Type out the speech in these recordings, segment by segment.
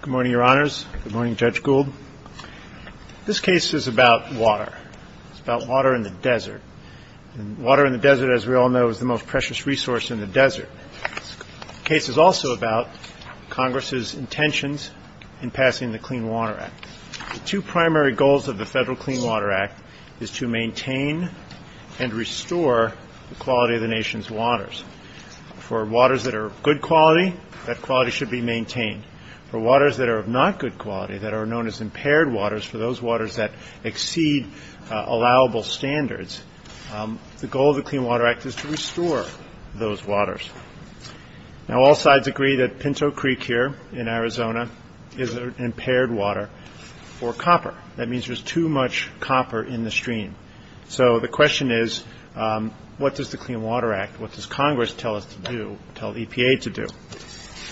Good morning, Your Honors. Good morning, Judge Gould. This case is about water. It's about water in the desert. Water in the desert, as we all know, is the most precious resource in the desert. The case is also about Congress's intentions in passing the Clean Water Act. The two primary goals of the federal Clean Water Act is to maintain and restore the quality of the nation's waters. For waters that are of good quality, that quality should be maintained. For waters that are of not good quality, that are known as impaired waters, for those waters that exceed allowable standards, the goal of the Clean Water Act is to restore those waters. Now, all sides agree that Pinto Creek here in Arizona is an impaired water for copper. That means there's too much copper in the stream. So the question is, what does the Clean Water Act, what does Congress tell us to do, tell EPA to do?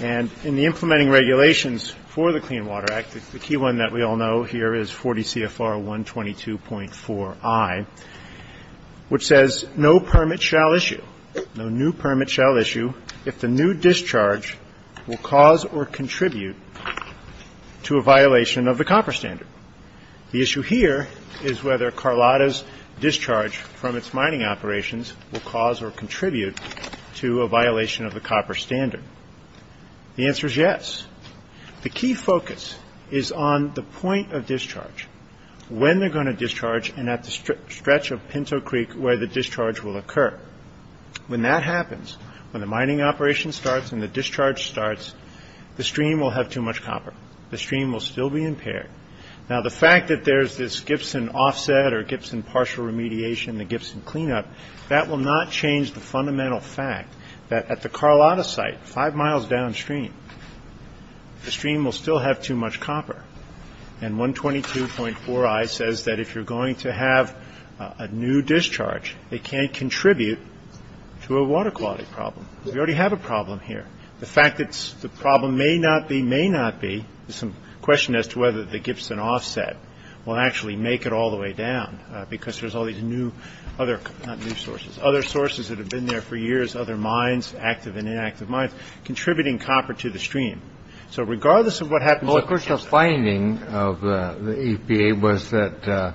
And in the implementing regulations for the Clean Water Act, the key one that we all know here is 40 CFR 122.4i, which says no permit shall issue, no new permit shall issue, if the new discharge will cause or contribute to a violation of the copper standard. The issue here is whether Carlotta's discharge from its mining operations will cause or contribute to a violation of the copper standard. The answer is yes. The key focus is on the point of discharge, when they're going to discharge and at the stretch of Pinto Creek where the discharge will occur. When that happens, when the mining operation starts and the discharge starts, the stream will have too much copper. The stream will still be impaired. Now, the fact that there's this Gibson offset or Gibson partial remediation, the Gibson cleanup, that will not change the fundamental fact that at the Carlotta site, five miles downstream, the stream will still have too much copper. And 122.4i says that if you're going to have a new discharge, it can't contribute to a water quality problem. We already have a problem here. The fact that the problem may not be, may not be, is some question as to whether the Gibson offset will actually make it all the way down, because there's all these other sources that have been there for years, other mines, active and inactive mines, contributing copper to the stream. So regardless of what happens, the finding of the EPA was that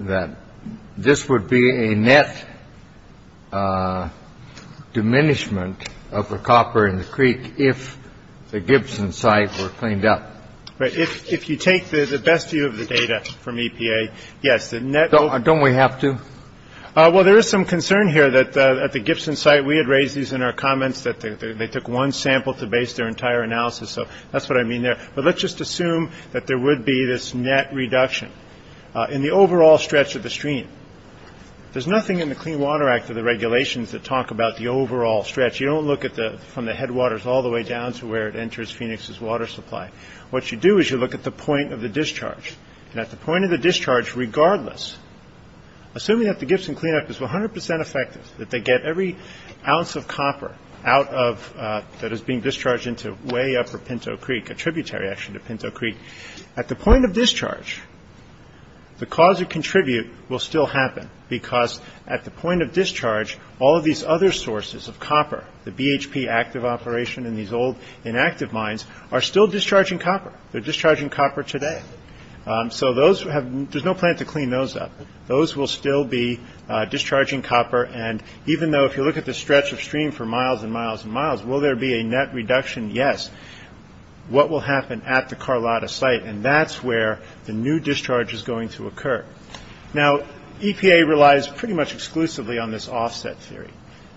that this would be a net diminishment of the copper in the creek. If the Gibson site were cleaned up. Right. If you take the best view of the data from EPA. Yes. Don't we have to. Well, there is some concern here that at the Gibson site, we had raised these in our comments that they took one sample to base their entire analysis. So that's what I mean there. But let's just assume that there would be this net reduction in the overall stretch of the stream. There's nothing in the Clean Water Act of the regulations that talk about the overall stretch. You don't look at the from the headwaters all the way down to where it enters Phoenix's water supply. What you do is you look at the point of the discharge and at the point of the discharge. Regardless, assuming that the Gibson cleanup is 100 percent effective, that they get every ounce of copper out of that is being discharged into way up for Pinto Creek, a tributary action to Pinto Creek at the point of discharge. The cause of contribute will still happen because at the point of discharge, all of these other sources of copper, the BHP active operation in these old inactive mines are still discharging copper. They're discharging copper today. So those who have there's no plan to clean those up. Those will still be discharging copper. And even though if you look at the stretch of stream for miles and miles and miles, will there be a net reduction? Yes. What will happen at the Carlotta site? And that's where the new discharge is going to occur. Now, EPA relies pretty much exclusively on this offset theory,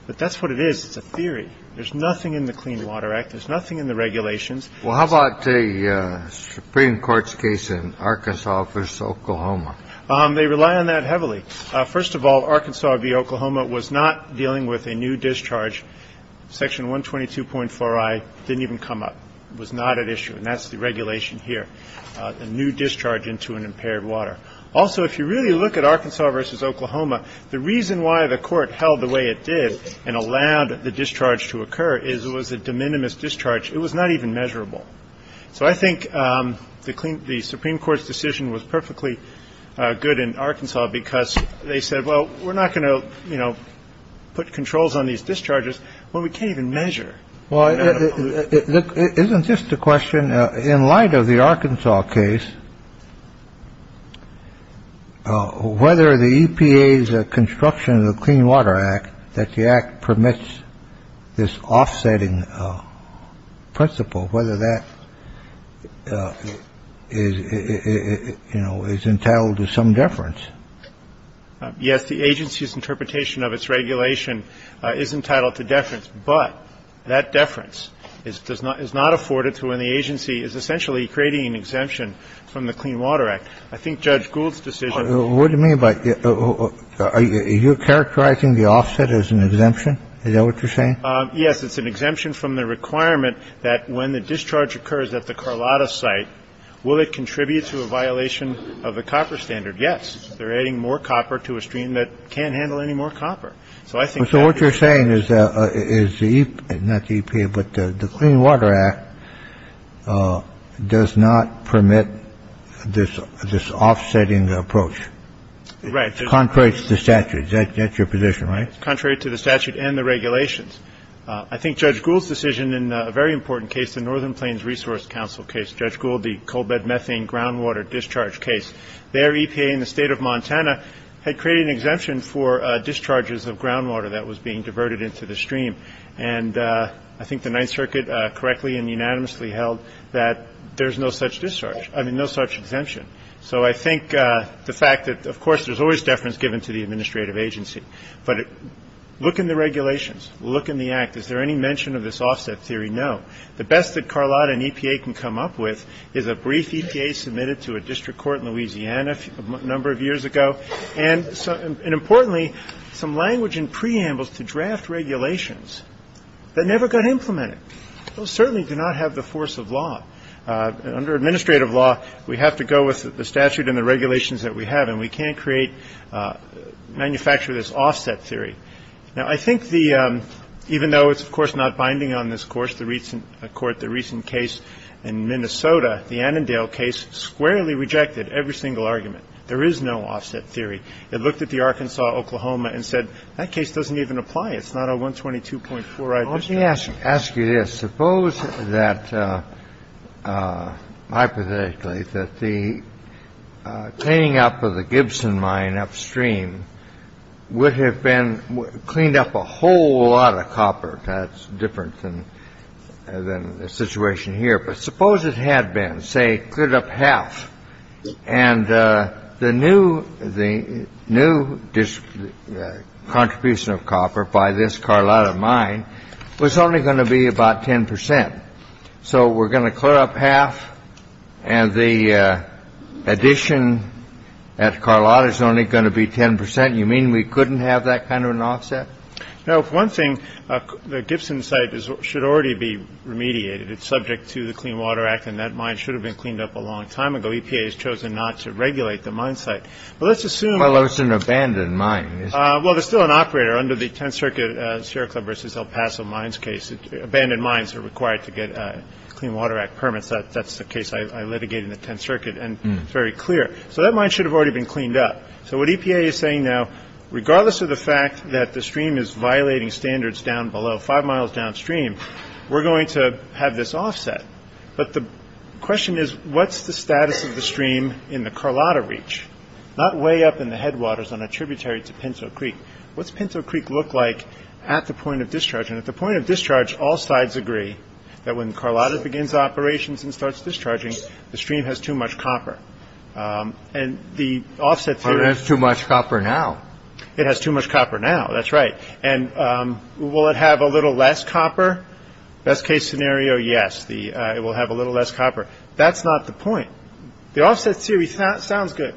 but that's what it is. It's a theory. There's nothing in the Clean Water Act. There's nothing in the regulations. Well, how about the Supreme Court's case in Arkansas v. Oklahoma? They rely on that heavily. First of all, Arkansas v. Oklahoma was not dealing with a new discharge. Section 122.4i didn't even come up. It was not at issue. And that's the regulation here. A new discharge into an impaired water. Also, if you really look at Arkansas v. Oklahoma, the reason why the court held the way it did and allowed the discharge to occur is it was a de minimis discharge. It was not even measurable. So I think the Supreme Court's decision was perfectly good in Arkansas because they said, well, we're not going to, you know, put controls on these discharges when we can't even measure. Well, isn't this the question in light of the Arkansas case? Well, whether the EPA's construction of the Clean Water Act, that the act permits this offsetting principle, whether that is, you know, is entitled to some deference. Yes. The agency's interpretation of its regulation is entitled to deference. But that deference is does not is not afforded to when the agency is essentially creating an exemption from the Clean Water Act. I think Judge Gould's decision. What do you mean by that? Are you characterizing the offset as an exemption? Is that what you're saying? Yes. It's an exemption from the requirement that when the discharge occurs at the Carlotta site, will it contribute to a violation of the copper standard? Yes. They're adding more copper to a stream that can't handle any more copper. So I think so. What you're saying is that is not the EPA, but the Clean Water Act does not permit this. This offsetting approach. Right. It's contrary to the statute. That's your position, right? Contrary to the statute and the regulations. I think Judge Gould's decision in a very important case, the Northern Plains Resource Council case, Judge Gould, the coal bed methane groundwater discharge case, their EPA in the state of Montana had created an exemption for discharges of groundwater that was being diverted into the stream. And I think the Ninth Circuit correctly and unanimously held that there's no such discharge. I mean, no such exemption. So I think the fact that, of course, there's always deference given to the administrative agency. But look in the regulations. Look in the act. Is there any mention of this offset theory? No. The best that Carlotta and EPA can come up with is a brief EPA submitted to a district court in Louisiana a number of years ago. And importantly, some language and preambles to draft regulations that never got implemented. Those certainly do not have the force of law under administrative law. We have to go with the statute and the regulations that we have and we can't create manufacture this offset theory. Now, I think the even though it's, of course, not binding on this course, the recent court, the recent case in Minnesota, the Annandale case squarely rejected every single argument. There is no offset theory. It looked at the Arkansas, Oklahoma and said that case doesn't even apply. It's not a one twenty two point four. Let me ask you this. Suppose that hypothetically that the cleaning up of the Gibson mine upstream would have been cleaned up a whole lot of copper. That's different than the situation here. But suppose it had been, say, good up half. And the new the new contribution of copper by this Carlotta mine was only going to be about 10 percent. So we're going to clear up half. And the addition at Carlotta is only going to be 10 percent. You mean we couldn't have that kind of an offset? Now, if one thing, the Gibson site should already be remediated. It's subject to the Clean Water Act, and that mine should have been cleaned up a long time ago. EPA has chosen not to regulate the mine site. But let's assume it's an abandoned mine. Well, there's still an operator under the 10th Circuit Sierra Club versus El Paso mines case. Abandoned mines are required to get Clean Water Act permits. That's the case. I litigate in the 10th Circuit. And it's very clear. So that mine should have already been cleaned up. So what EPA is saying now, regardless of the fact that the stream is violating standards down below five miles downstream, we're going to have this offset. But the question is, what's the status of the stream in the Carlotta reach, not way up in the headwaters on a tributary to Pinto Creek? What's Pinto Creek look like at the point of discharge? And at the point of discharge, all sides agree that when Carlotta begins operations and starts discharging, the stream has too much copper and the offset. That's too much copper now. It has too much copper now. That's right. And will it have a little less copper? Best case scenario, yes. It will have a little less copper. That's not the point. The offset series sounds good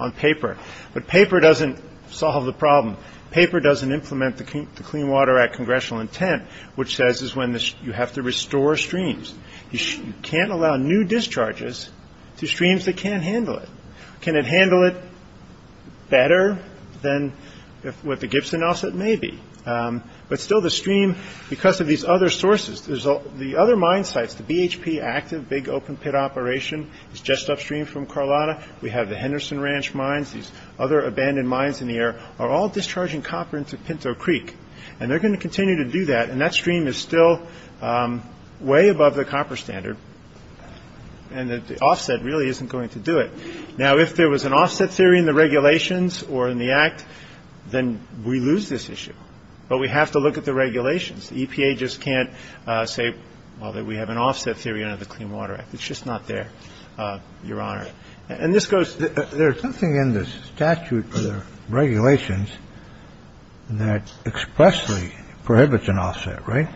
on paper, but paper doesn't solve the problem. Paper doesn't implement the Clean Water Act congressional intent, which says is when you have to restore streams. You can't allow new discharges to streams that can't handle it. Can it handle it better than what the Gibson offset may be? But still the stream, because of these other sources, the other mine sites, the BHP active big open pit operation, is just upstream from Carlotta. We have the Henderson Ranch mines. These other abandoned mines in the air are all discharging copper into Pinto Creek. And they're going to continue to do that. And that stream is still way above the copper standard. And the offset really isn't going to do it. Now, if there was an offset theory in the regulations or in the act, then we lose this issue. But we have to look at the regulations. EPA just can't say that we have an offset theory under the Clean Water Act. It's just not there, Your Honor. And this goes. There's nothing in this statute for the regulations that expressly prohibits an offset. Right.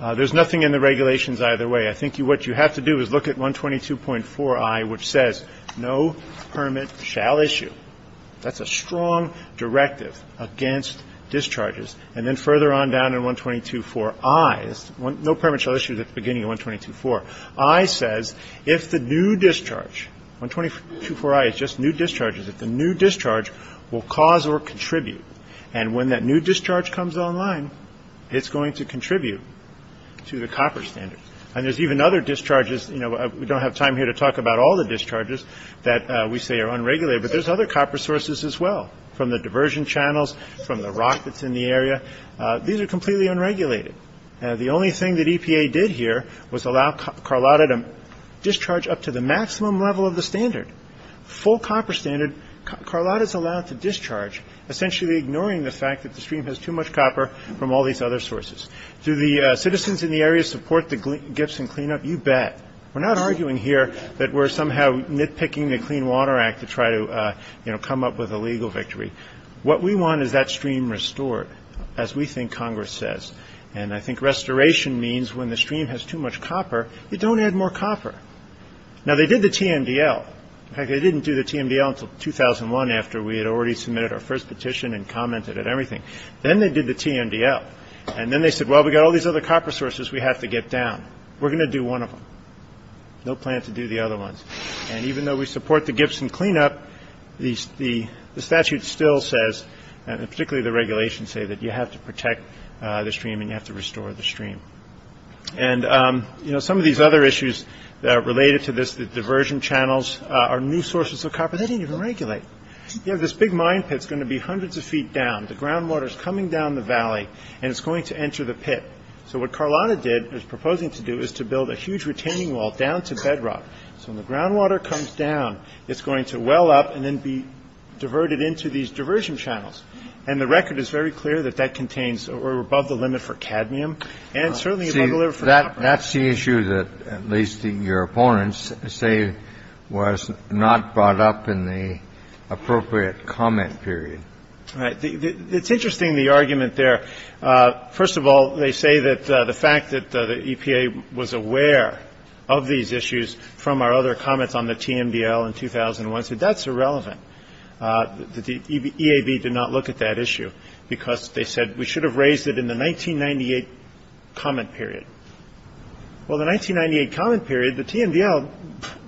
There's nothing in the regulations either way. I think what you have to do is look at 122.4i, which says no permit shall issue. That's a strong directive against discharges. And then further on down in 122.4i, no permit shall issue at the beginning of 122.4i says if the new discharge, 122.4i is just new discharges, if the new discharge will cause or contribute. And when that new discharge comes online, it's going to contribute to the copper standard. And there's even other discharges. You know, we don't have time here to talk about all the discharges that we say are unregulated. But there's other copper sources as well from the diversion channels, from the rock that's in the area. These are completely unregulated. The only thing that EPA did here was allow Carlotta to discharge up to the maximum level of the standard. Full copper standard. Carlotta is allowed to discharge, essentially ignoring the fact that the stream has too much copper from all these other sources. Do the citizens in the area support the Gibson cleanup? You bet. We're not arguing here that we're somehow nitpicking the Clean Water Act to try to, you know, come up with a legal victory. What we want is that stream restored, as we think Congress says. And I think restoration means when the stream has too much copper, you don't add more copper. Now, they did the TMDL. In fact, they didn't do the TMDL until 2001, after we had already submitted our first petition and commented at everything. Then they did the TMDL. And then they said, well, we've got all these other copper sources we have to get down. We're going to do one of them. No plan to do the other ones. And even though we support the Gibson cleanup, the statute still says, and particularly the regulations say that you have to protect the stream and you have to restore the stream. And, you know, some of these other issues that are related to this, the diversion channels are new sources of copper they didn't even regulate. And so we're going to build a huge retaining wall down to bedrock. So when the groundwater comes down, it's going to well up and then be diverted into these diversion channels. And the record is very clear that that contains or above the limit for cadmium and certainly above the limit for copper. That's the issue that at least your opponents say was not brought up in the, you know, appropriate comment period. It's interesting, the argument there. First of all, they say that the fact that the EPA was aware of these issues from our other comments on the TMDL in 2001. That's irrelevant. The EAB did not look at that issue because they said we should have raised it in the 1998 comment period. Well, the 1998 comment period, the TMDL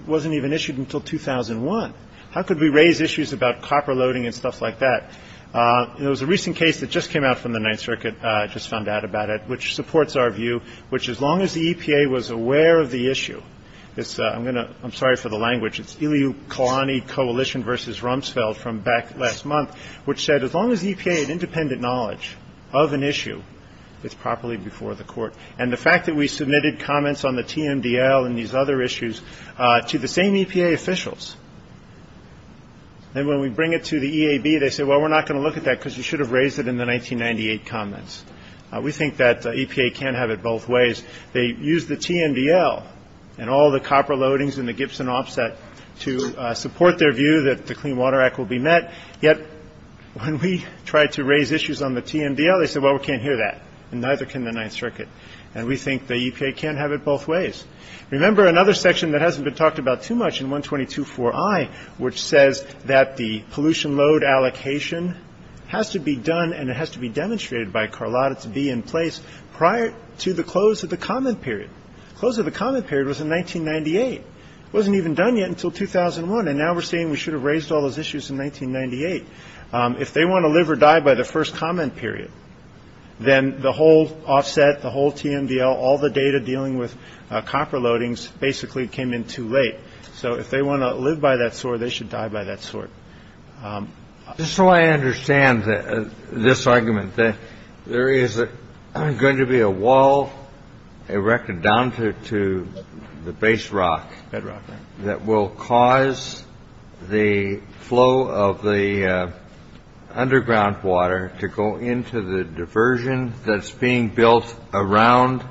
wasn't even issued until 2001. How could we raise issues about copper loading and stuff like that? It was a recent case that just came out from the Ninth Circuit. I just found out about it, which supports our view, which as long as the EPA was aware of the issue, it's I'm going to I'm sorry for the language. It's Iliu Kalani Coalition versus Rumsfeld from back last month, which said as long as the EPA had independent knowledge of an issue, it's properly before the court. And the fact that we submitted comments on the TMDL and these other issues to the same EPA officials. And when we bring it to the EAB, they say, well, we're not going to look at that because you should have raised it in the 1998 comments. We think that EPA can't have it both ways. They use the TMDL and all the copper loadings in the Gibson offset to support their view that the Clean Water Act will be met. Yet when we tried to raise issues on the TMDL, they said, well, we can't hear that. And neither can the Ninth Circuit. And we think the EPA can't have it both ways. Remember, another section that hasn't been talked about too much in 122 for I, which says that the pollution load allocation has to be done and it has to be demonstrated by Carlotta to be in place prior to the close of the comment period. Close of the comment period was in 1998. It wasn't even done yet until 2001. And now we're saying we should have raised all those issues in 1998. If they want to live or die by the first comment period, then the whole offset, the whole TMDL, all the data dealing with copper loadings basically came in too late. So if they want to live by that sword, they should die by that sword. So I understand this argument that there is going to be a wall erected down to the base rock bedrock that will cause the flow of the underground water to go into the diversion that's being built around,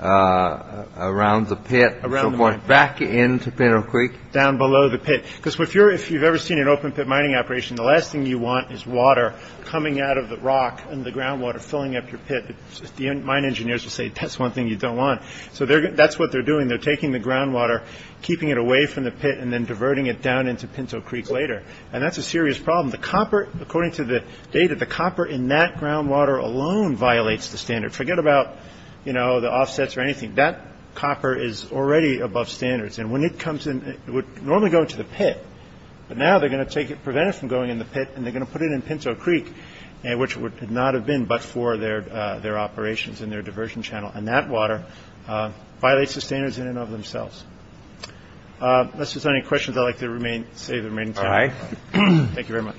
around the pit, around the back into Pinot Creek, down below the pit. Because if you're, if you've ever seen an open pit mining operation, the last thing you want is water coming out of the rock and the groundwater filling up your pit. The mine engineers will say, that's one thing you don't want. So that's what they're doing. They're taking the groundwater, keeping it away from the pit and then diverting it down into Pinot Creek later. And that's a serious problem. The copper, according to the data, the copper in that groundwater alone violates the standard. Forget about, you know, the offsets or anything. That copper is already above standards. And when it comes in, it would normally go into the pit. But now they're going to take it, prevent it from going in the pit and they're going to put it in Pinot Creek, which would not have been but for their their operations in their diversion channel. And that water violates the standards in and of themselves. Unless there's any questions, I'd like to remain, say the remaining time. Thank you very much.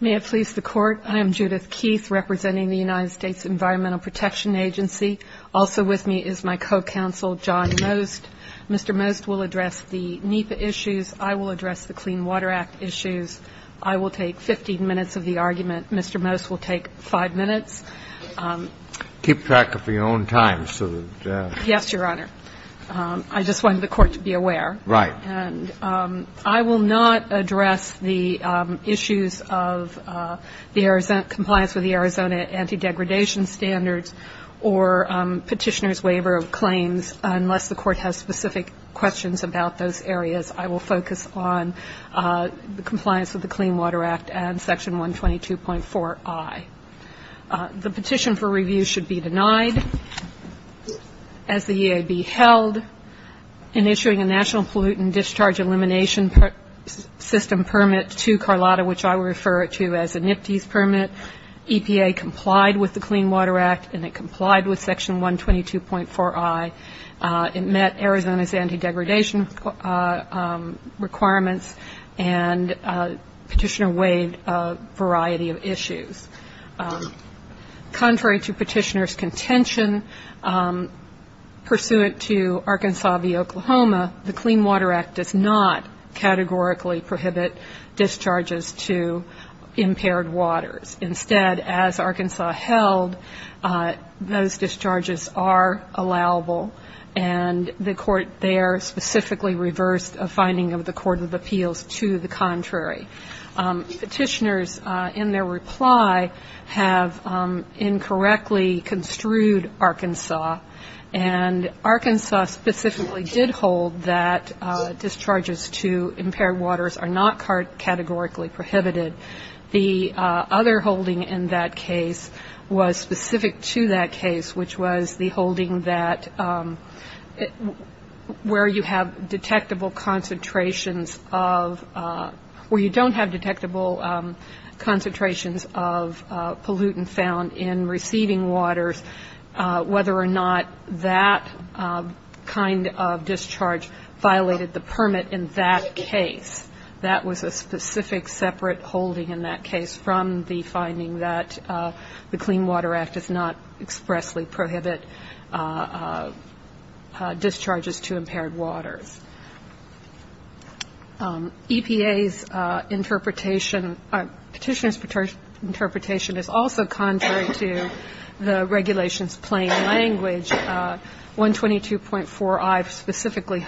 May it please the Court. I am Judith Keith, representing the United States Environmental Protection Agency. Also with me is my co-counsel, John Most. Mr. Most will address the NEPA issues. I will address the Clean Water Act issues. I will take 15 minutes of the argument. Mr. Most will take five minutes. Keep track of your own time. Yes, Your Honor. I just wanted the Court to be aware. Right. And I will not address the issues of the Arizona, compliance with the Arizona anti-degradation standards or Petitioner's waiver of claims unless the Court has specific questions about those areas. I will focus on the compliance with the Clean Water Act and Section 122.4i. The petition for review should be denied. As the EAB held, in issuing a national pollutant discharge elimination system permit to Carlotta, which I will refer to as a NIPTES permit, EPA complied with the Clean Water Act, and it complied with Section 122.4i. It met Arizona's anti-degradation requirements, and Petitioner waived a variety of issues. Contrary to Petitioner's contention, pursuant to Arkansas v. Oklahoma, the Clean Water Act does not categorically prohibit discharges to impaired waters. Instead, as Arkansas held, those discharges are allowable, and the Court there specifically reversed a finding of the Court of Appeals to the contrary. Petitioners, in their reply, have incorrectly construed Arkansas, and Arkansas specifically did hold that discharges to impaired waters are not categorically prohibited. The other holding in that case was specific to that case, which was the holding that where you have detectable concentrations of, where you don't have detectable concentrations of pollutant found in receiving waters, whether or not that kind of discharge violated the permit in that case. That was a specific separate holding in that case from the finding that the Clean Water Act does not expressly prohibit discharges to impaired waters. EPA's interpretation, Petitioner's interpretation is also contrary to the regulation's plain language. The 122.4i specifically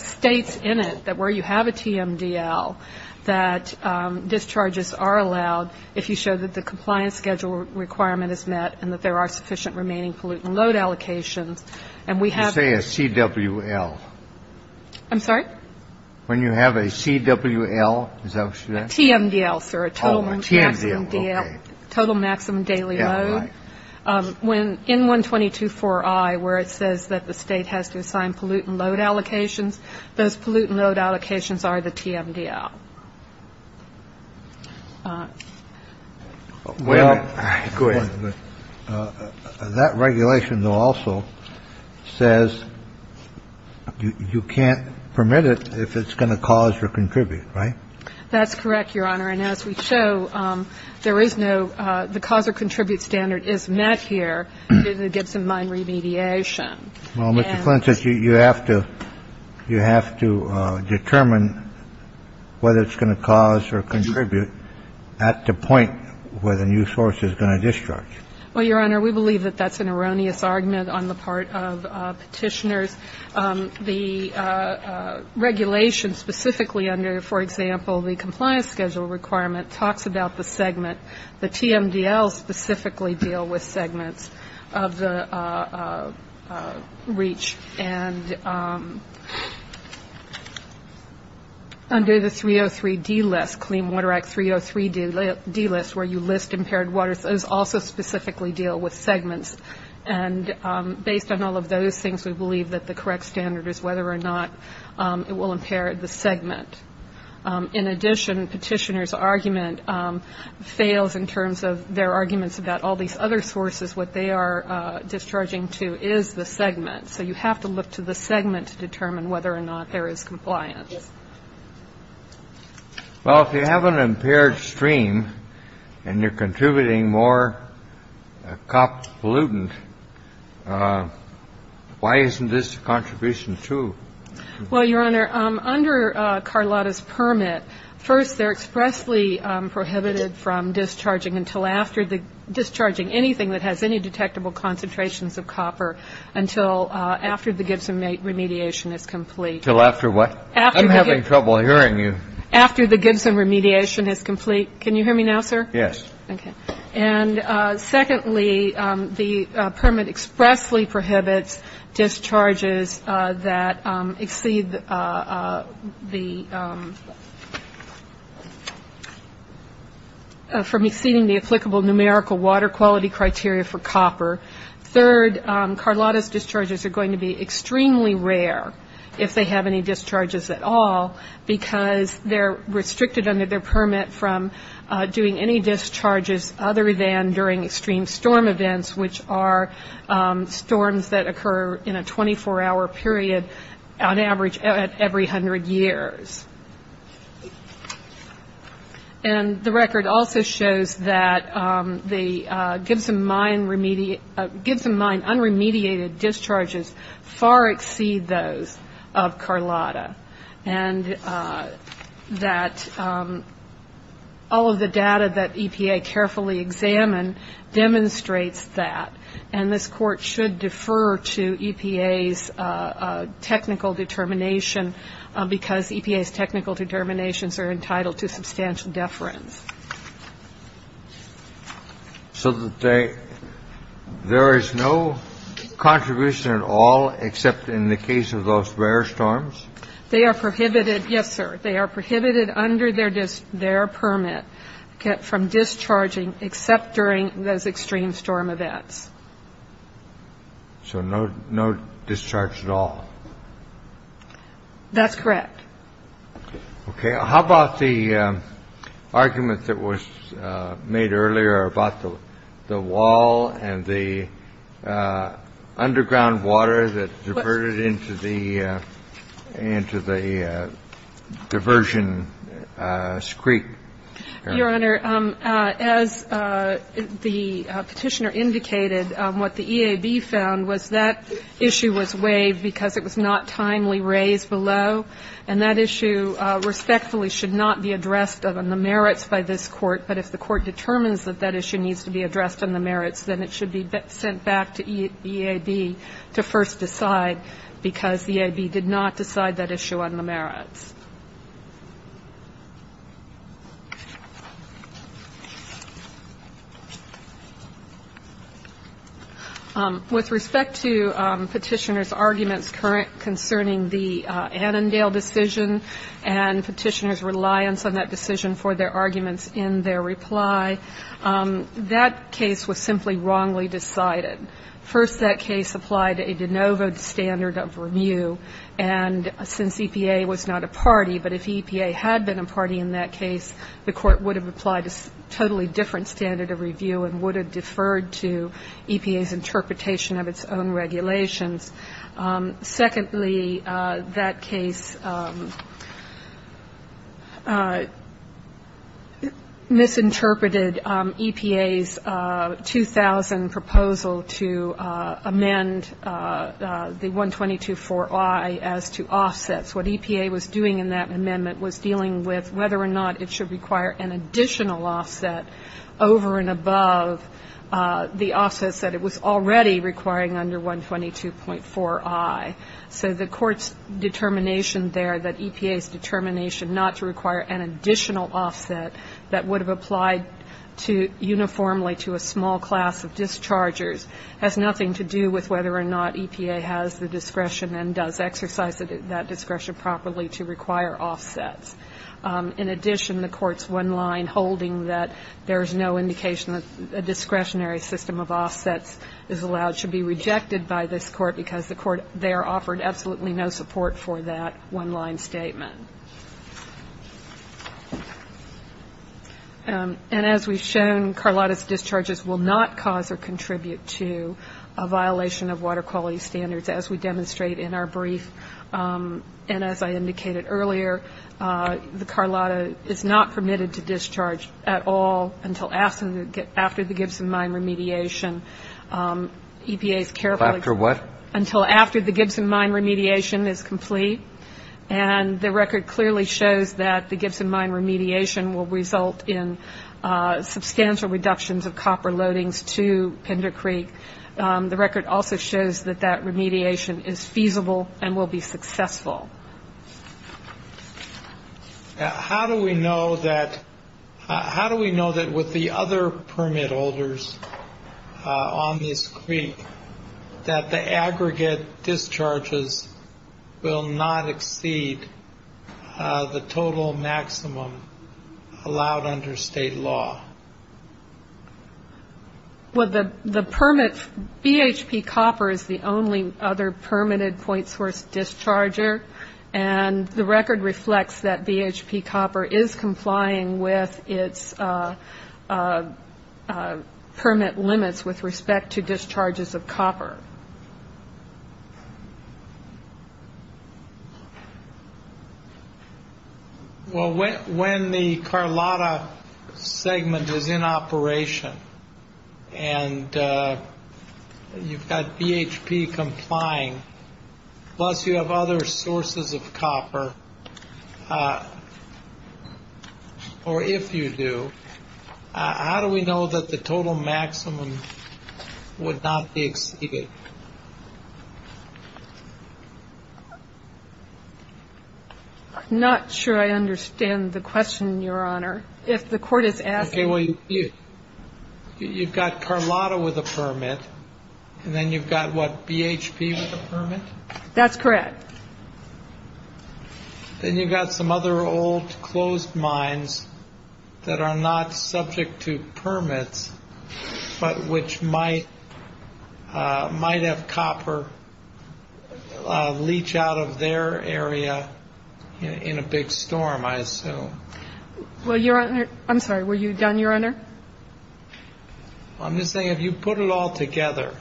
states in it that where you have a TMDL, that discharges are allowed if you show that the compliance schedule requirement is met and that there are sufficient remaining pollutant load allocations, and we have- You say a CWL. I'm sorry? When you have a CWL, is that what you said? A TMDL, sir. Oh, a TMDL, okay. Total maximum daily load. When in 122.4i, where it says that the State has to assign pollutant load allocations, those pollutant load allocations are the TMDL. Well- Go ahead. That regulation, though, also says you can't permit it if it's going to cause or contribute, right? That's correct, Your Honor. And as we show, there is no the cause or contribute standard is met here in the Gibson Mine remediation. Well, Mr. Flint, you have to determine whether it's going to cause or contribute at the point where the new source is going to discharge. Well, Your Honor, we believe that that's an erroneous argument on the part of Petitioner's. The regulation specifically under, for example, the compliance schedule requirement, talks about the segment. The TMDLs specifically deal with segments of the reach. And under the 303D list, Clean Water Act 303D list, where you list impaired waters, those also specifically deal with segments. And based on all of those things, we believe that the correct standard is whether or not it will impair the segment. In addition, Petitioner's argument fails in terms of their arguments about all these other sources. What they are discharging to is the segment. So you have to look to the segment to determine whether or not there is compliance. Well, if you have an impaired stream and you're contributing more copper pollutant, why isn't this contribution true? Well, Your Honor, under Carlotta's permit, first they're expressly prohibited from discharging until after the discharging anything that has any detectable concentrations of copper until after the Gibson remediation is complete. Until after what? I'm having trouble hearing you. After the Gibson remediation is complete. Can you hear me now, sir? Yes. Okay. And secondly, the permit expressly prohibits discharges that exceed the from exceeding the applicable numerical water quality criteria for copper. Third, Carlotta's discharges are going to be extremely rare if they have any discharges at all because they're restricted under their permit from doing any discharges other than during extreme storm events, which are storms that occur in a 24-hour period on average at every 100 years. And the record also shows that the Gibson mine unremediated discharges far exceed those of Carlotta and that all of the data that EPA carefully examined demonstrates that. And this Court should defer to EPA's technical determination because EPA's technical determinations are entitled to substantial deference. So there is no contribution at all except in the case of those rare storms? They are prohibited. Yes, sir. They are prohibited under their permit from discharging except during those extreme storm events. So no discharge at all? That's correct. Okay. How about the argument that was made earlier about the wall and the underground water that diverted into the diversion creek? Your Honor, as the Petitioner indicated, what the EAB found was that issue was waived because it was not timely raised below, and that issue respectfully should not be addressed on the merits by this Court. But if the Court determines that that issue needs to be addressed on the merits, then it should be sent back to EAB to first decide because EAB did not decide that issue on the merits. With respect to Petitioner's arguments concerning the Annandale decision and Petitioner's reliance on that decision for their arguments in their reply, that case was simply wrongly decided. First, that case applied a de novo standard of review, and since EPA was not a party, but if EPA had been a party in that case, the Court would have applied a totally different standard of review and would have deferred to EPA's interpretation of its own regulations. Secondly, that case misinterpreted EPA's 2000 proposal to amend the 122.4i as to offsets. What EPA was doing in that amendment was dealing with whether or not it should require an additional offset over and above the offsets that it was already requiring under 122.4i. So the Court's determination there that EPA's determination not to require an additional offset that would have applied uniformly to a small class of dischargers has nothing to do with whether or not EPA has the discretion and does exercise that discretion properly to require offsets. In addition, the Court's one-line holding that there is no indication that a discretionary system of offsets is allowed should be rejected by this Court because the Court there offered absolutely no support for that one-line statement. And as we've shown, Carlotta's discharges will not cause or contribute to a violation of water quality standards, as we demonstrate in our brief. And as I indicated earlier, the Carlotta is not permitted to discharge at all until after the Gibson Mine remediation. Until after what? Until after the Gibson Mine remediation is complete. And the record clearly shows that the Gibson Mine remediation will result in substantial reductions of copper loadings to Pender Creek. The record also shows that that remediation is feasible and will be successful. How do we know that with the other permit holders on this creek that the aggregate discharges will not exceed the total maximum allowed under state law? Well, the permit, BHP copper is the only other permitted point source discharger, and the record reflects that BHP copper is complying with its permit limits with respect to discharges of copper. Well, when the Carlotta segment is in operation and you've got BHP complying, plus you have other sources of copper, or if you do, how do we know that the total maximum would not be exceeded? I'm not sure I understand the question, Your Honor. If the Court is asking. Okay. Well, you've got Carlotta with a permit, and then you've got what, BHP with a permit? That's correct. Then you've got some other old closed mines that are not subject to permits, but which might have copper leach out of their area in a big storm, I assume. Well, Your Honor, I'm sorry, were you done, Your Honor? I'm just saying, if you put it all together,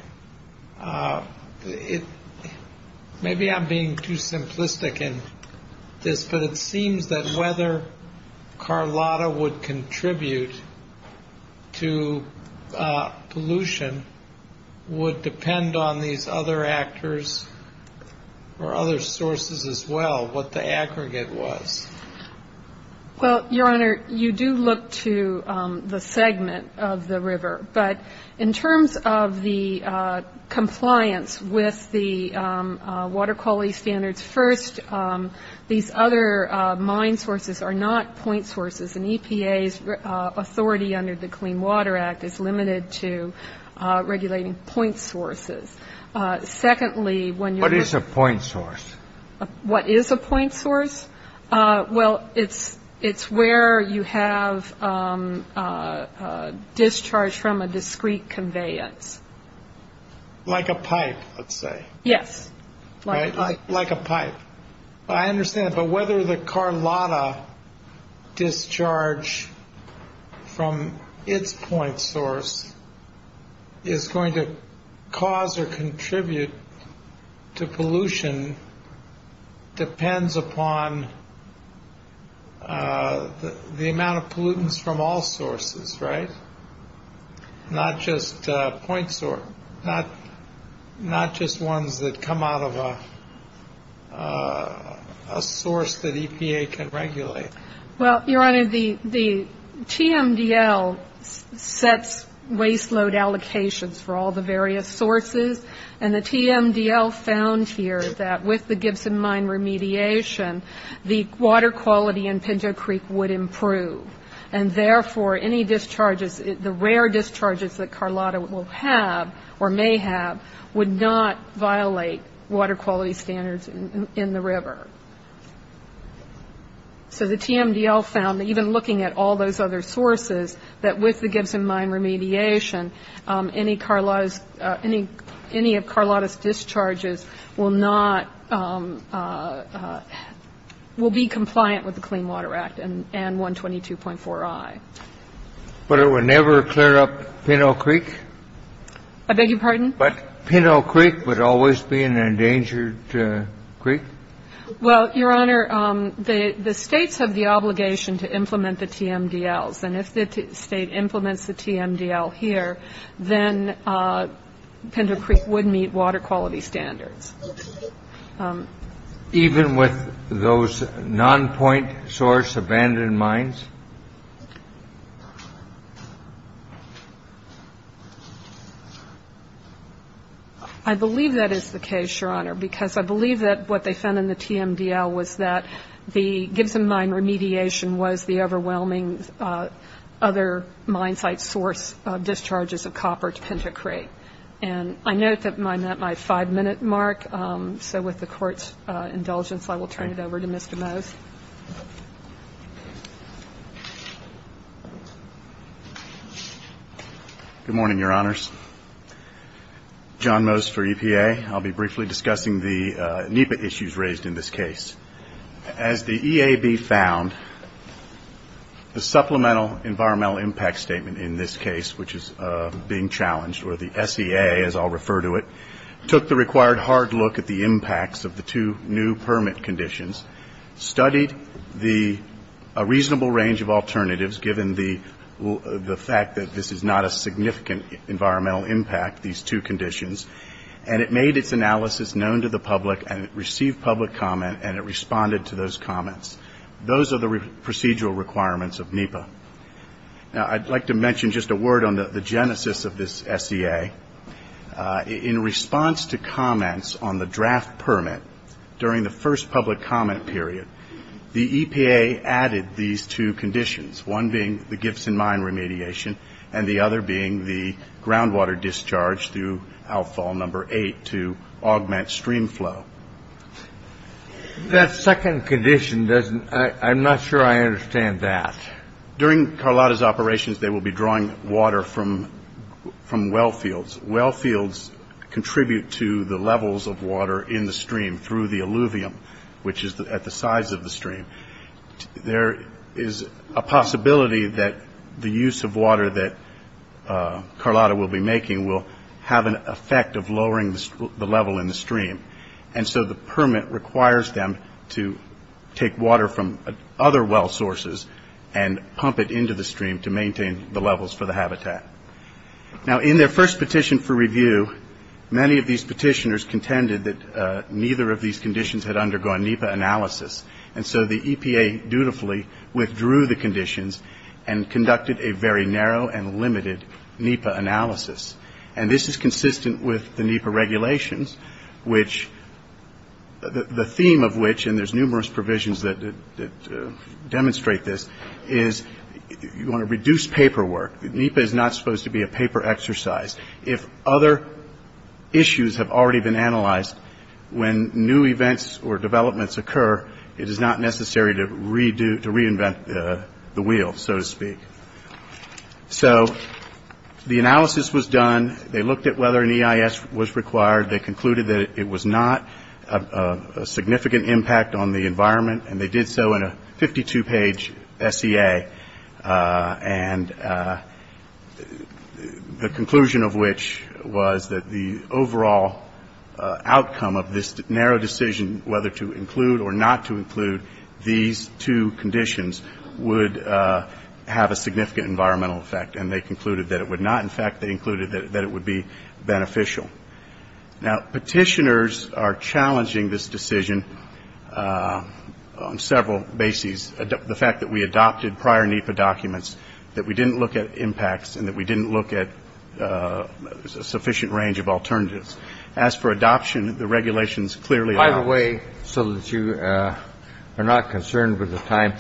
maybe I'm being too simplistic in this, but it seems that whether Carlotta would contribute to pollution would depend on these other actors or other sources as well, what the aggregate was. Well, Your Honor, you do look to the segment of the river, but in terms of the compliance with the water quality standards, first, these other mine sources are not point sources, and EPA's authority under the Clean Water Act is limited to regulating point sources. Secondly, when you're- What is a point source? What is a point source? Well, it's where you have discharge from a discrete conveyance. Like a pipe, let's say. Yes. Right, like a pipe. I understand, but whether the Carlotta discharge from its point source is going to cause or contribute to pollution depends upon the amount of pollutants from all sources, right? Not just point source. Not just ones that come out of a source that EPA can regulate. Well, Your Honor, the TMDL sets waste load allocations for all the various sources, and the TMDL found here that with the Gibson Mine remediation, the water quality in Pinto Creek would improve, and therefore any discharges, the rare discharges that Carlotta will have or may have, would not violate water quality standards in the river. So the TMDL found that even looking at all those other sources, that with the Gibson Mine remediation, any of Carlotta's discharges will not be compliant with the Clean Water Act and 122.4i. But it would never clear up Pinto Creek? I beg your pardon? But Pinto Creek would always be an endangered creek? Well, Your Honor, the States have the obligation to implement the TMDLs, and if the State implements the TMDL here, then Pinto Creek would meet water quality standards. Even with those non-point source abandoned mines? I believe that is the case, Your Honor, because I believe that what they found in the TMDL was that the Gibson Mine remediation was the overwhelming other mine site source discharges of copper to Pinto Creek. And I note that I'm at my five-minute mark, so with the Court's indulgence, I will turn it over to Mr. Mose. Good morning, Your Honors. John Mose for EPA. I'll be briefly discussing the NEPA issues raised in this case. As the EAB found, the Supplemental Environmental Impact Statement in this case, which is being challenged, or the SEA as I'll refer to it, took the required hard look at the impacts of the two new permit conditions, studied a reasonable range of alternatives given the fact that this is not a significant environmental impact, these two conditions, and it made its analysis known to the public, and it received public comment, and it responded to those comments. Those are the procedural requirements of NEPA. Now, I'd like to mention just a word on the genesis of this SEA. In response to comments on the draft permit during the first public comment period, the EPA added these two conditions, one being the Gibson Mine remediation and the other being the groundwater discharge through outfall number eight to augment stream flow. That second condition doesn't, I'm not sure I understand that. During Carlotta's operations, they will be drawing water from well fields. Well fields contribute to the levels of water in the stream through the alluvium, which is at the sides of the stream. There is a possibility that the use of water that Carlotta will be making will have an effect of lowering the level in the stream, and so the permit requires them to take water from other well sources and pump it into the stream to maintain the levels for the habitat. Now, in their first petition for review, many of these petitioners contended that neither of these conditions had undergone NEPA analysis, and so the EPA dutifully withdrew the conditions and conducted a very narrow and limited NEPA analysis. And this is consistent with the NEPA regulations, which the theme of which, and there's numerous provisions that demonstrate this, is you want to reduce paperwork. NEPA is not supposed to be a paper exercise. If other issues have already been analyzed, when new events or developments occur, it is not necessary to reinvent the wheel, so to speak. So the analysis was done. They looked at whether an EIS was required. They concluded that it was not a significant impact on the environment, and they did so in a 52-page SEA. And the conclusion of which was that the overall outcome of this narrow decision, whether to include or not to include these two conditions, would have a significant environmental effect, and they concluded that it would not. In fact, they concluded that it would be beneficial. Now, petitioners are challenging this decision on several bases. One is the fact that we adopted prior NEPA documents, that we didn't look at impacts and that we didn't look at a sufficient range of alternatives. As for adoption, the regulations clearly allow it. By the way, so that you are not concerned with the time,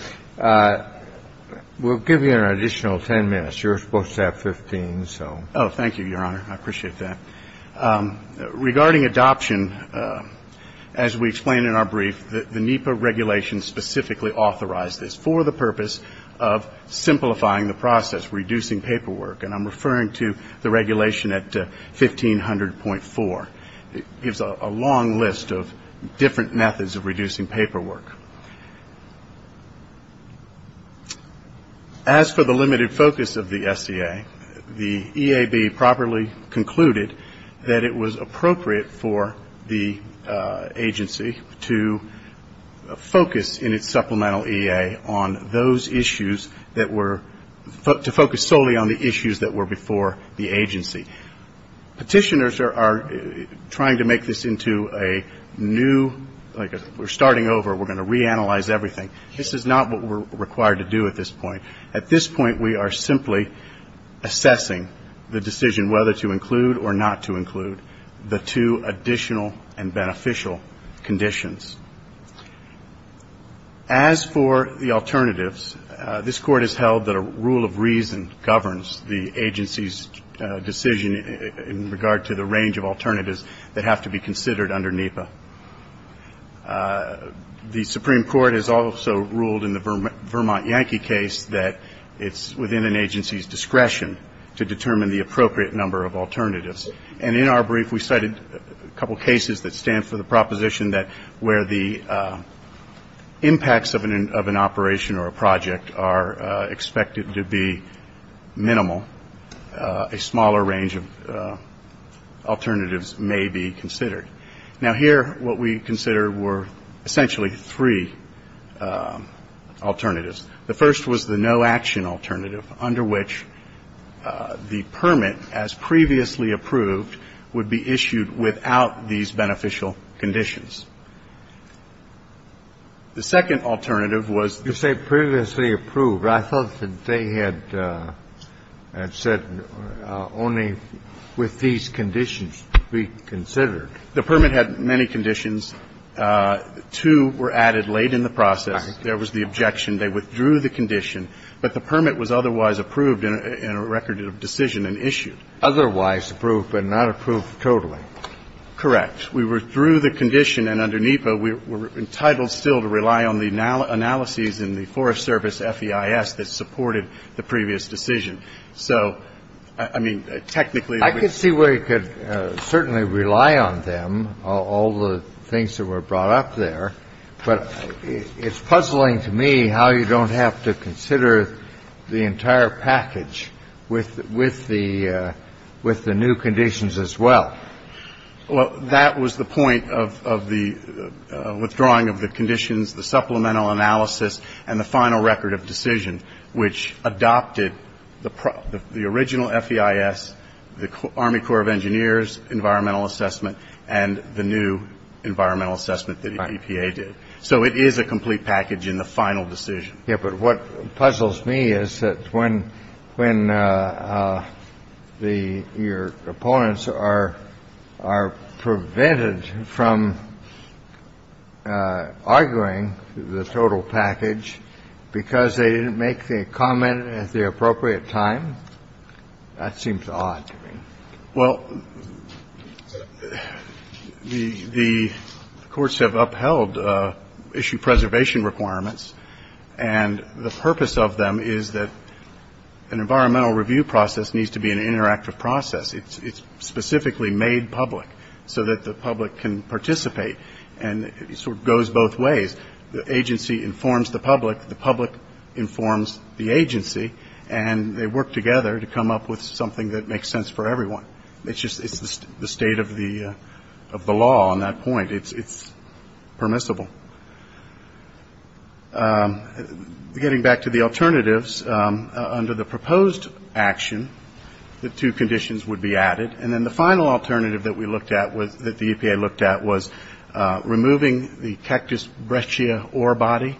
we'll give you an additional 10 minutes. You were supposed to have 15, so. Oh, thank you, Your Honor. I appreciate that. Regarding adoption, as we explained in our brief, the NEPA regulations specifically authorize this for the purpose of simplifying the process, reducing paperwork, and I'm referring to the regulation at 1500.4. It gives a long list of different methods of reducing paperwork. As for the limited focus of the SEA, the EAB properly concluded that it was appropriate for the agency to focus, in its supplemental EA, on those issues that were to focus solely on the issues that were before the agency. Petitioners are trying to make this into a new, like we're starting over. We're going to reanalyze everything. This is not what we're required to do at this point. At this point, we are simply assessing the decision whether to include or not to include the two additional and beneficial conditions. As for the alternatives, this Court has held that a rule of reason governs the agency's decision in regard to the range of The Supreme Court has also ruled in the Vermont Yankee case that it's within an agency's discretion to determine the appropriate number of alternatives. And in our brief, we cited a couple cases that stand for the proposition that where the impacts of an operation or a project are expected to be minimal, a smaller range of alternatives may be considered. Now, here, what we consider were essentially three alternatives. The first was the no-action alternative, under which the permit, as previously approved, would be issued without these beneficial conditions. The second alternative was the permit that was previously approved. I thought that they had said only with these conditions to be considered. The permit had many conditions. Two were added late in the process. There was the objection. They withdrew the condition. But the permit was otherwise approved in a record of decision and issued. Otherwise approved, but not approved totally. Correct. We withdrew the condition. And under NEPA, we're entitled still to rely on the analyses in the Forest Service FEIS that supported the previous decision. So, I mean, technically, I could see where you could certainly rely on them, all the things that were brought up there. But it's puzzling to me how you don't have to consider the entire package with the new conditions as well. Well, that was the point of the withdrawing of the conditions, the supplemental analysis, and the final record of decision, which adopted the original FEIS, the Army Corps of Engineers environmental assessment, and the new environmental assessment that EPA did. So it is a complete package in the final decision. Yeah, but what puzzles me is that when your opponents are prevented from arguing the total package because they didn't make the comment at the appropriate time, that seems odd to me. Well, the courts have upheld issue preservation requirements. And the purpose of them is that an environmental review process needs to be an interactive process. It's specifically made public so that the public can participate. And it sort of goes both ways. The agency informs the public. The public informs the agency. And they work together to come up with something that makes sense for everyone. It's just the state of the law on that point. It's permissible. Getting back to the alternatives, under the proposed action, the two conditions would be added. And then the final alternative that we looked at, that the EPA looked at, was removing the Cactus breccia ore body.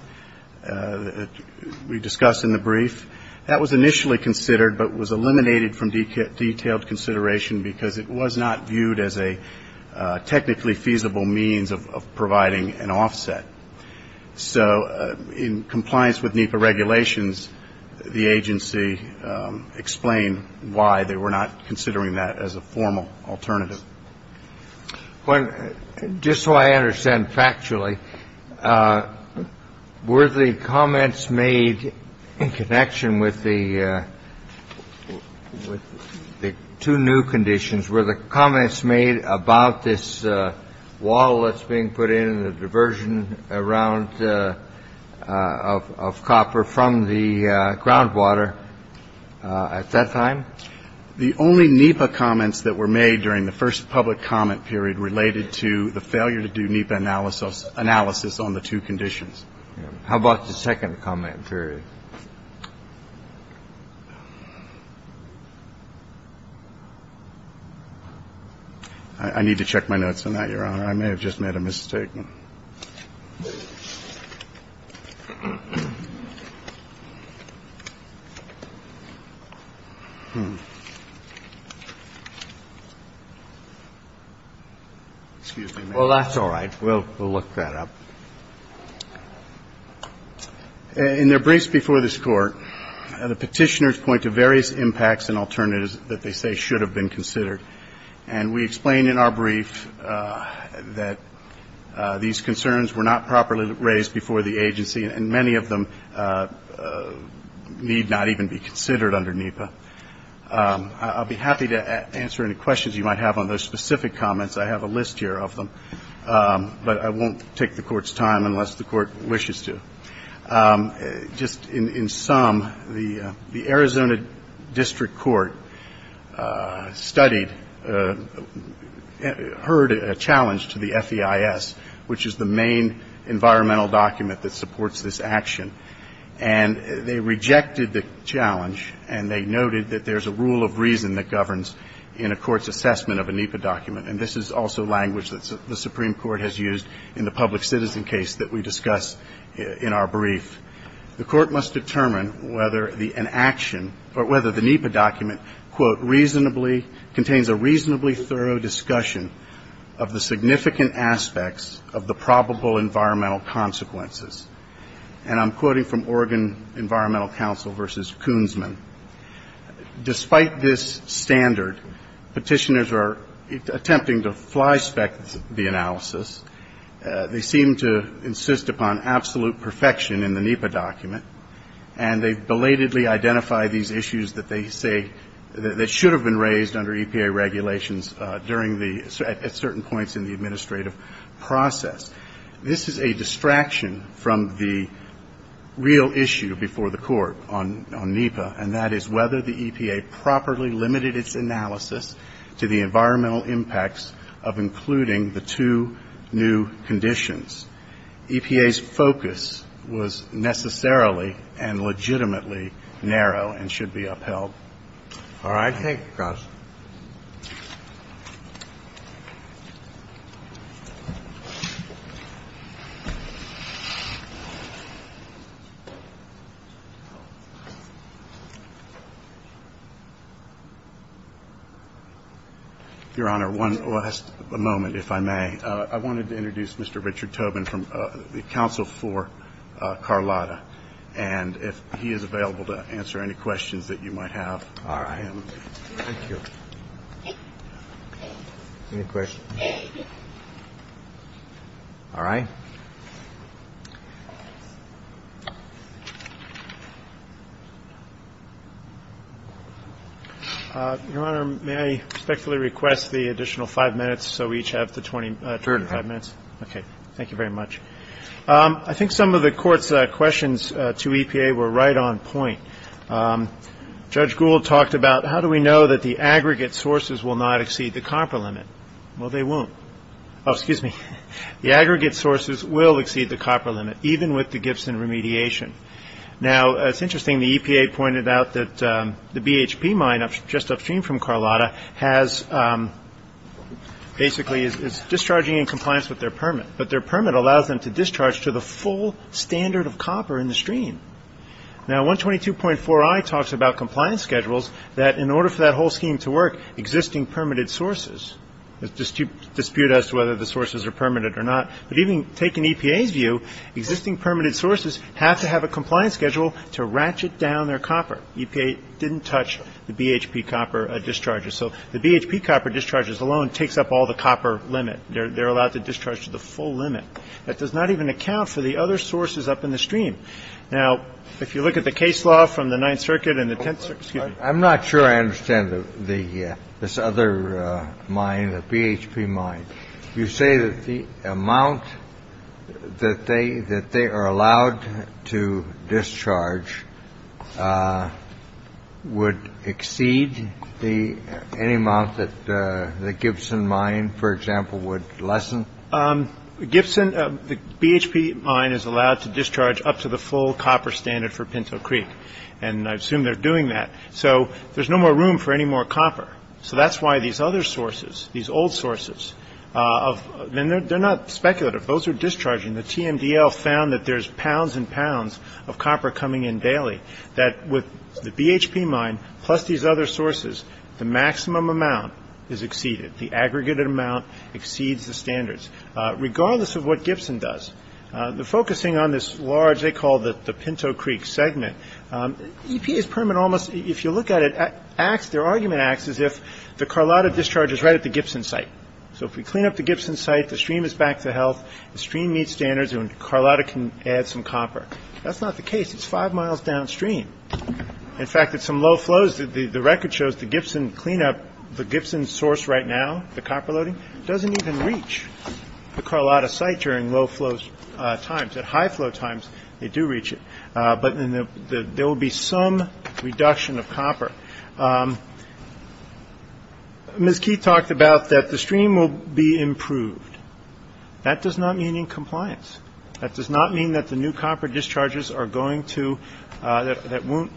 We discussed in the brief. That was initially considered but was eliminated from detailed consideration because it was not viewed as a technically feasible means of providing an offset. So in compliance with NEPA regulations, the agency explained why they were not considering that as a formal alternative. Just so I understand factually, were the comments made in connection with the two new conditions, were the comments made about this wall that's being put in and the diversion of copper from the groundwater at that time? The only NEPA comments that were made during the first public comment period related to the failure to do NEPA analysis on the two conditions. How about the second comment period? I need to check my notes on that, Your Honor. I may have just made a mistake. Excuse me. Well, that's all right. We'll look that up. In their briefs before this Court, the Petitioners point to various impacts and alternatives that they say should have been considered. And we explain in our brief that these concerns were not properly raised before the agency and many of them need not even be considered under NEPA. I'll be happy to answer any questions you might have on those specific comments. I have a list here of them. But I won't take the Court's time unless the Court wishes to. Just in sum, the Arizona District Court studied, heard a challenge to the FEIS, which is the main environmental document that supports this action. And they rejected the challenge, and they noted that there's a rule of reason that governs in a court's assessment of a NEPA document. And this is also language that the Supreme Court has used in the public citizen case that we discuss in our brief. The Court must determine whether an action or whether the NEPA document, quote, reasonably contains a reasonably thorough discussion of the significant aspects of the probable environmental consequences. And I'm quoting from Oregon Environmental Council v. Koonsman. Despite this standard, Petitioners are attempting to fly-spec the analysis. They seem to insist upon absolute perfection in the NEPA document. And they belatedly identify these issues that they say that should have been raised under EPA regulations during the at certain points in the administrative process. This is a distraction from the real issue before the Court on NEPA, and that is whether the EPA properly limited its analysis to the environmental impacts of including the two new conditions. EPA's focus was necessarily and legitimately narrow and should be upheld. All right. Thank you, Counsel. Your Honor, one last moment, if I may. I wanted to introduce Mr. Richard Tobin from the counsel for Carlotta. And if he is available to answer any questions that you might have for him. All right. Thank you. Any questions? All right. Your Honor, may I respectfully request the additional five minutes so we each have the 25 minutes? Certainly. Okay. Thank you very much. I think some of the Court's questions to EPA were right on point. Judge Gould talked about how do we know that the aggregate sources will not exceed the copper limit? Well, they won't. Oh, excuse me. The aggregate sources will exceed the copper limit, even with the Gibson remediation. Now, it's interesting. The EPA pointed out that the BHP mine just upstream from Carlotta basically is discharging in compliance with their permit. But their permit allows them to discharge to the full standard of copper in the stream. Now, 122.4i talks about compliance schedules that in order for that whole scheme to work, existing permitted sources dispute as to whether the sources are permitted or not. But even taking EPA's view, existing permitted sources have to have a compliance schedule to ratchet down their copper. EPA didn't touch the BHP copper discharges. So the BHP copper discharges alone takes up all the copper limit. They're allowed to discharge to the full limit. That does not even account for the other sources up in the stream. Now, if you look at the case law from the Ninth Circuit and the Tenth Circuit. I'm not sure I understand this other mine, the BHP mine. You say that the amount that they are allowed to discharge would exceed any amount that the Gibson mine, for example, would lessen? Gibson, the BHP mine, is allowed to discharge up to the full copper standard for Pinto Creek. And I assume they're doing that. So there's no more room for any more copper. So that's why these other sources, these old sources, they're not speculative. Those are discharging. The TMDL found that there's pounds and pounds of copper coming in daily, that with the BHP mine plus these other sources, the maximum amount is exceeded. The aggregated amount exceeds the standards, regardless of what Gibson does. They're focusing on this large, they call it the Pinto Creek segment. EPA's permit almost, if you look at it, their argument acts as if the Carlotta discharge is right at the Gibson site. So if we clean up the Gibson site, the stream is back to health, the stream meets standards, and Carlotta can add some copper. That's not the case. It's five miles downstream. In fact, at some low flows, the record shows the Gibson cleanup, the Gibson source right now, the copper loading, doesn't even reach the Carlotta site during low flow times. At high flow times, they do reach it. But there will be some reduction of copper. Ms. Keith talked about that the stream will be improved. That does not mean in compliance. That does not mean that the new copper discharges are going to, that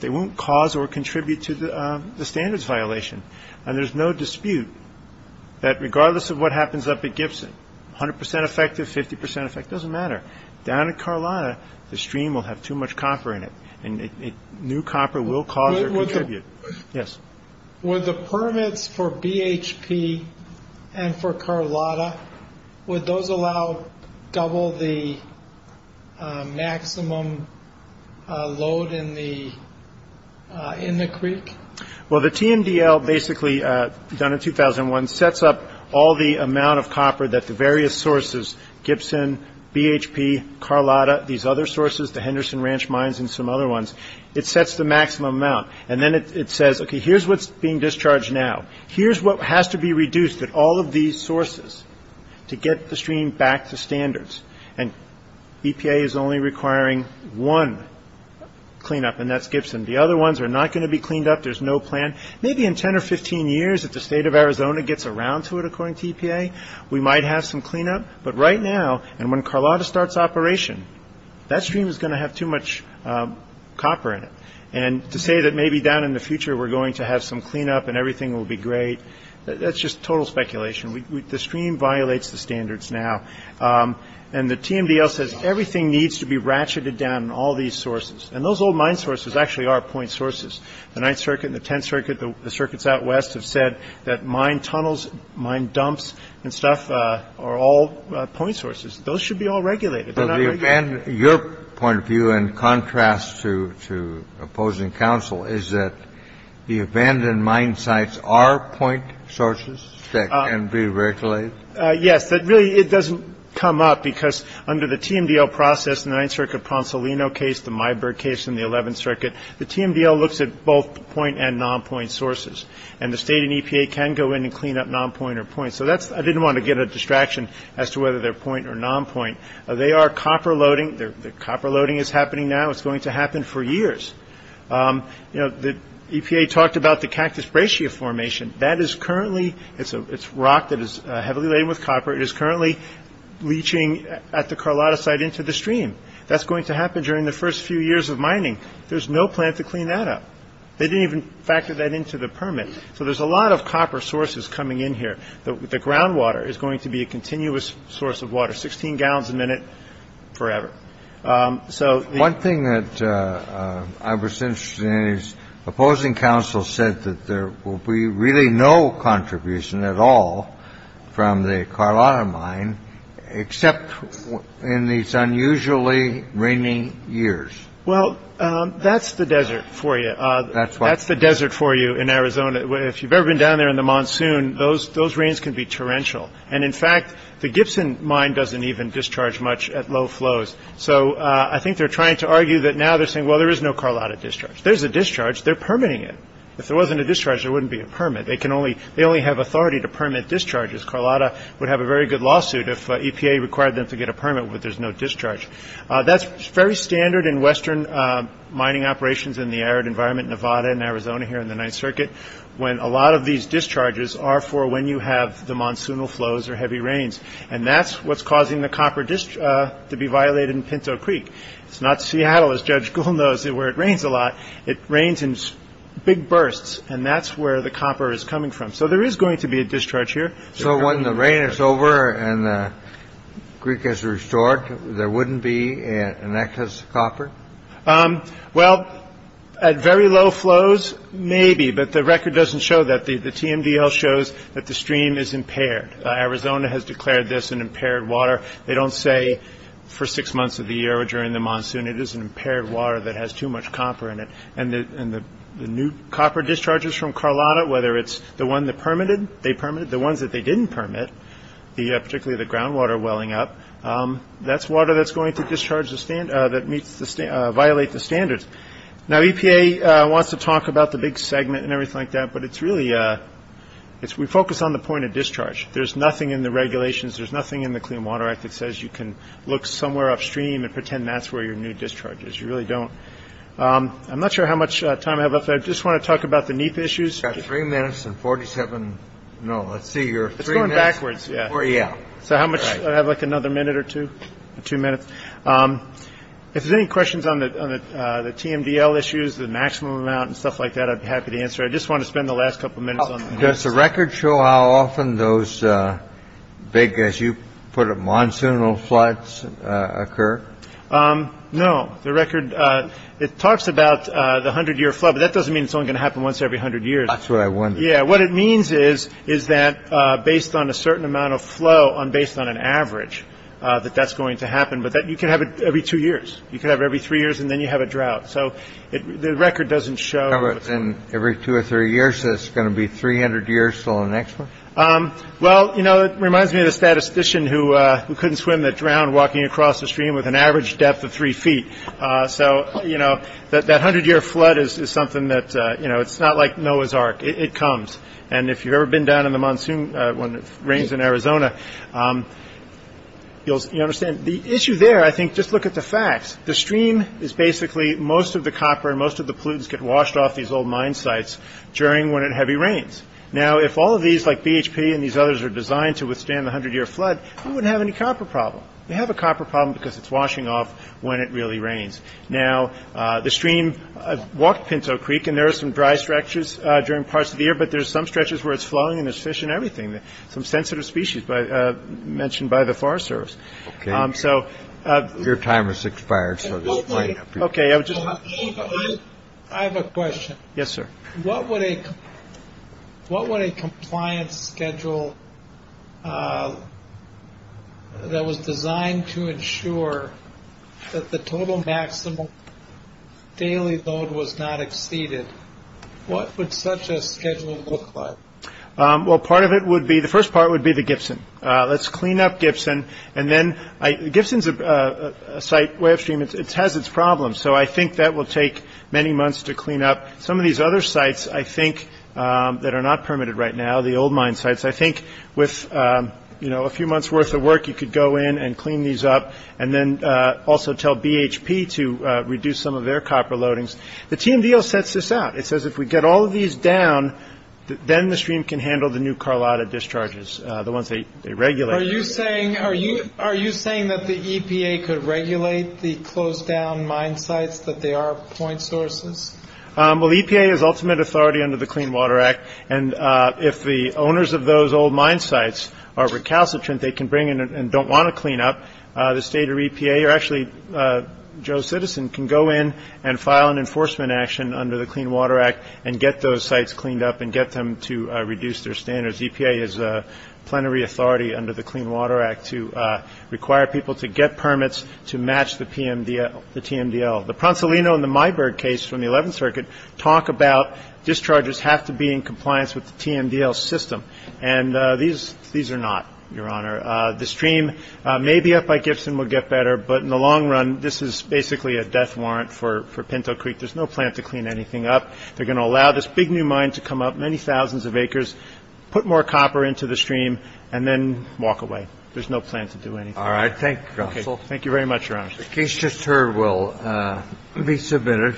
they won't cause or contribute to the standards violation. And there's no dispute that regardless of what happens up at Gibson, 100% effective, 50% effect, doesn't matter. Down at Carlotta, the stream will have too much copper in it, and new copper will cause or contribute. Yes. With the permits for BHP and for Carlotta, would those allow double the maximum load in the creek? Well, the TMDL basically, done in 2001, sets up all the amount of copper that the various sources, Gibson, BHP, Carlotta, these other sources, the Henderson Ranch mines and some other ones, it sets the maximum amount. And then it says, okay, here's what's being discharged now. Here's what has to be reduced at all of these sources to get the stream back to standards. And EPA is only requiring one cleanup, and that's Gibson. The other ones are not going to be cleaned up. There's no plan. Maybe in 10 or 15 years, if the state of Arizona gets around to it, according to EPA, we might have some cleanup. But right now, and when Carlotta starts operation, that stream is going to have too much copper in it. And to say that maybe down in the future we're going to have some cleanup and everything will be great, that's just total speculation. The stream violates the standards now. And the TMDL says everything needs to be ratcheted down in all these sources. And those old mine sources actually are point sources. The Ninth Circuit and the Tenth Circuit, the circuits out west, have said that mine tunnels, mine dumps and stuff are all point sources. Those should be all regulated. Kennedy, your point of view, in contrast to opposing counsel, is that the abandoned mine sites are point sources that can be regulated? Yes. Really, it doesn't come up, because under the TMDL process, the Ninth Circuit Ponsolino case, the Myberg case and the Eleventh Circuit, the TMDL looks at both point and non-point sources. And the state and EPA can go in and clean up non-point or point. So that's ñ I didn't want to get a distraction as to whether they're point or non-point. They are copper loading. Copper loading is happening now. It's going to happen for years. You know, the EPA talked about the Cactus Bracia formation. That is currently ñ it's rock that is heavily laden with copper. It is currently leaching at the Carlotta site into the stream. That's going to happen during the first few years of mining. There's no plan to clean that up. They didn't even factor that into the permit. So there's a lot of copper sources coming in here. The groundwater is going to be a continuous source of water. Sixteen gallons a minute forever. DR. ROSENFELD, JR. One thing that I was interested in is opposing counsel said that there will be really no contribution at all from the Carlotta mine except in these unusually rainy years. MR. BARROWS Well, that's the desert for you. That's the desert for you in Arizona. If you've ever been down there in the monsoon, those ñ those rains can be torrential. And in fact, the Gibson mine doesn't even discharge much at low flows. So I think they're trying to argue that now they're saying, well, there is no Carlotta discharge. There's a discharge. They're permitting it. If there wasn't a discharge, there wouldn't be a permit. They can only ñ they only have authority to permit discharges. Carlotta would have a very good lawsuit if EPA required them to get a permit where there's no discharge. That's very standard in Western mining operations in the arid environment, Nevada and Arizona here in the Ninth Circuit, when a lot of these discharges are for when you have the monsoonal flows or heavy rains. And that's what's causing the copper to be violated in Pinto Creek. It's not Seattle, as Judge Gould knows, where it rains a lot. It rains in big bursts. And that's where the copper is coming from. So there is going to be a discharge here. So when the rain is over and the creek is restored, there wouldn't be an excess copper? Well, at very low flows, maybe. But the record doesn't show that. The TMDL shows that the stream is impaired. Arizona has declared this an impaired water. They don't say for six months of the year or during the monsoon it is an impaired water that has too much copper in it. And the new copper discharges from Carlotta, whether it's the one that permitted, they permitted, the ones that they didn't permit, particularly the groundwater welling up, that's water that's going to violate the standards. Now, EPA wants to talk about the big segment and everything like that. But we focus on the point of discharge. There's nothing in the regulations. There's nothing in the Clean Water Act that says you can look somewhere upstream and pretend that's where your new discharge is. You really don't. I'm not sure how much time I have left. I just want to talk about the NEEP issues. You've got three minutes and 47. No, let's see. It's going backwards. Yeah. So how much? I have like another minute or two, two minutes. If there's any questions on the TMDL issues, the maximum amount and stuff like that, I'd be happy to answer. I just want to spend the last couple of minutes. Does the record show how often those big, as you put it, monsoonal floods occur? No, the record. It talks about the hundred year flood, but that doesn't mean it's only going to happen once every hundred years. That's what I wonder. Yeah, what it means is, is that based on a certain amount of flow on based on an average, that that's going to happen. But that you can have it every two years. You can have every three years and then you have a drought. So the record doesn't show. And every two or three years, it's going to be 300 years till the next one. Well, you know, it reminds me of the statistician who couldn't swim that drowned walking across the stream with an average depth of three feet. So, you know, that that hundred year flood is something that, you know, it's not like Noah's Ark. It comes. And if you've ever been down in the monsoon when it rains in Arizona, you'll understand the issue there. I think just look at the facts. The stream is basically most of the copper and most of the pollutants get washed off these old mine sites during when it heavy rains. Now, if all of these like BHP and these others are designed to withstand the hundred year flood, you wouldn't have any copper problem. You have a copper problem because it's washing off when it really rains. Now, the stream walked Pinto Creek and there are some dry structures during parts of the year, but there's some stretches where it's flowing and there's fish and everything. Some sensitive species mentioned by the Forest Service. So your time is expired. OK. I have a question. Yes, sir. What would a what would a compliance schedule that was designed to ensure that the total maximum daily load was not exceeded? What would such a schedule look like? Well, part of it would be the first part would be the Gibson. Let's clean up Gibson. And then Gibson's a site where it has its problems. So I think that will take many months to clean up some of these other sites, I think, that are not permitted right now. The old mine sites, I think, with a few months worth of work, you could go in and clean these up and then also tell BHP to reduce some of their copper loadings. The team deal sets this out. It says if we get all of these down, then the stream can handle the new Carlotta discharges. The ones they regulate. Are you saying are you are you saying that the EPA could regulate the closed down mine sites, that they are point sources? Well, the EPA is ultimate authority under the Clean Water Act. And if the owners of those old mine sites are recalcitrant, they can bring in and don't want to clean up the state or EPA. Or actually, Joe Citizen can go in and file an enforcement action under the Clean Water Act and get those sites cleaned up and get them to reduce their standards. EPA is a plenary authority under the Clean Water Act to require people to get permits to match the TMDL, the TMDL. The Pronsolino and the Myberg case from the 11th Circuit talk about discharges have to be in compliance with the TMDL system. And these these are not, Your Honor. The stream may be up by Gibson will get better. But in the long run, this is basically a death warrant for Pinto Creek. There's no plan to clean anything up. They're going to allow this big new mine to come up many thousands of acres, put more copper into the stream and then walk away. There's no plan to do anything. All right. Thank you. Thank you very much, Your Honor. The case just heard will be submitted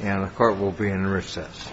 and the Court will be in recess.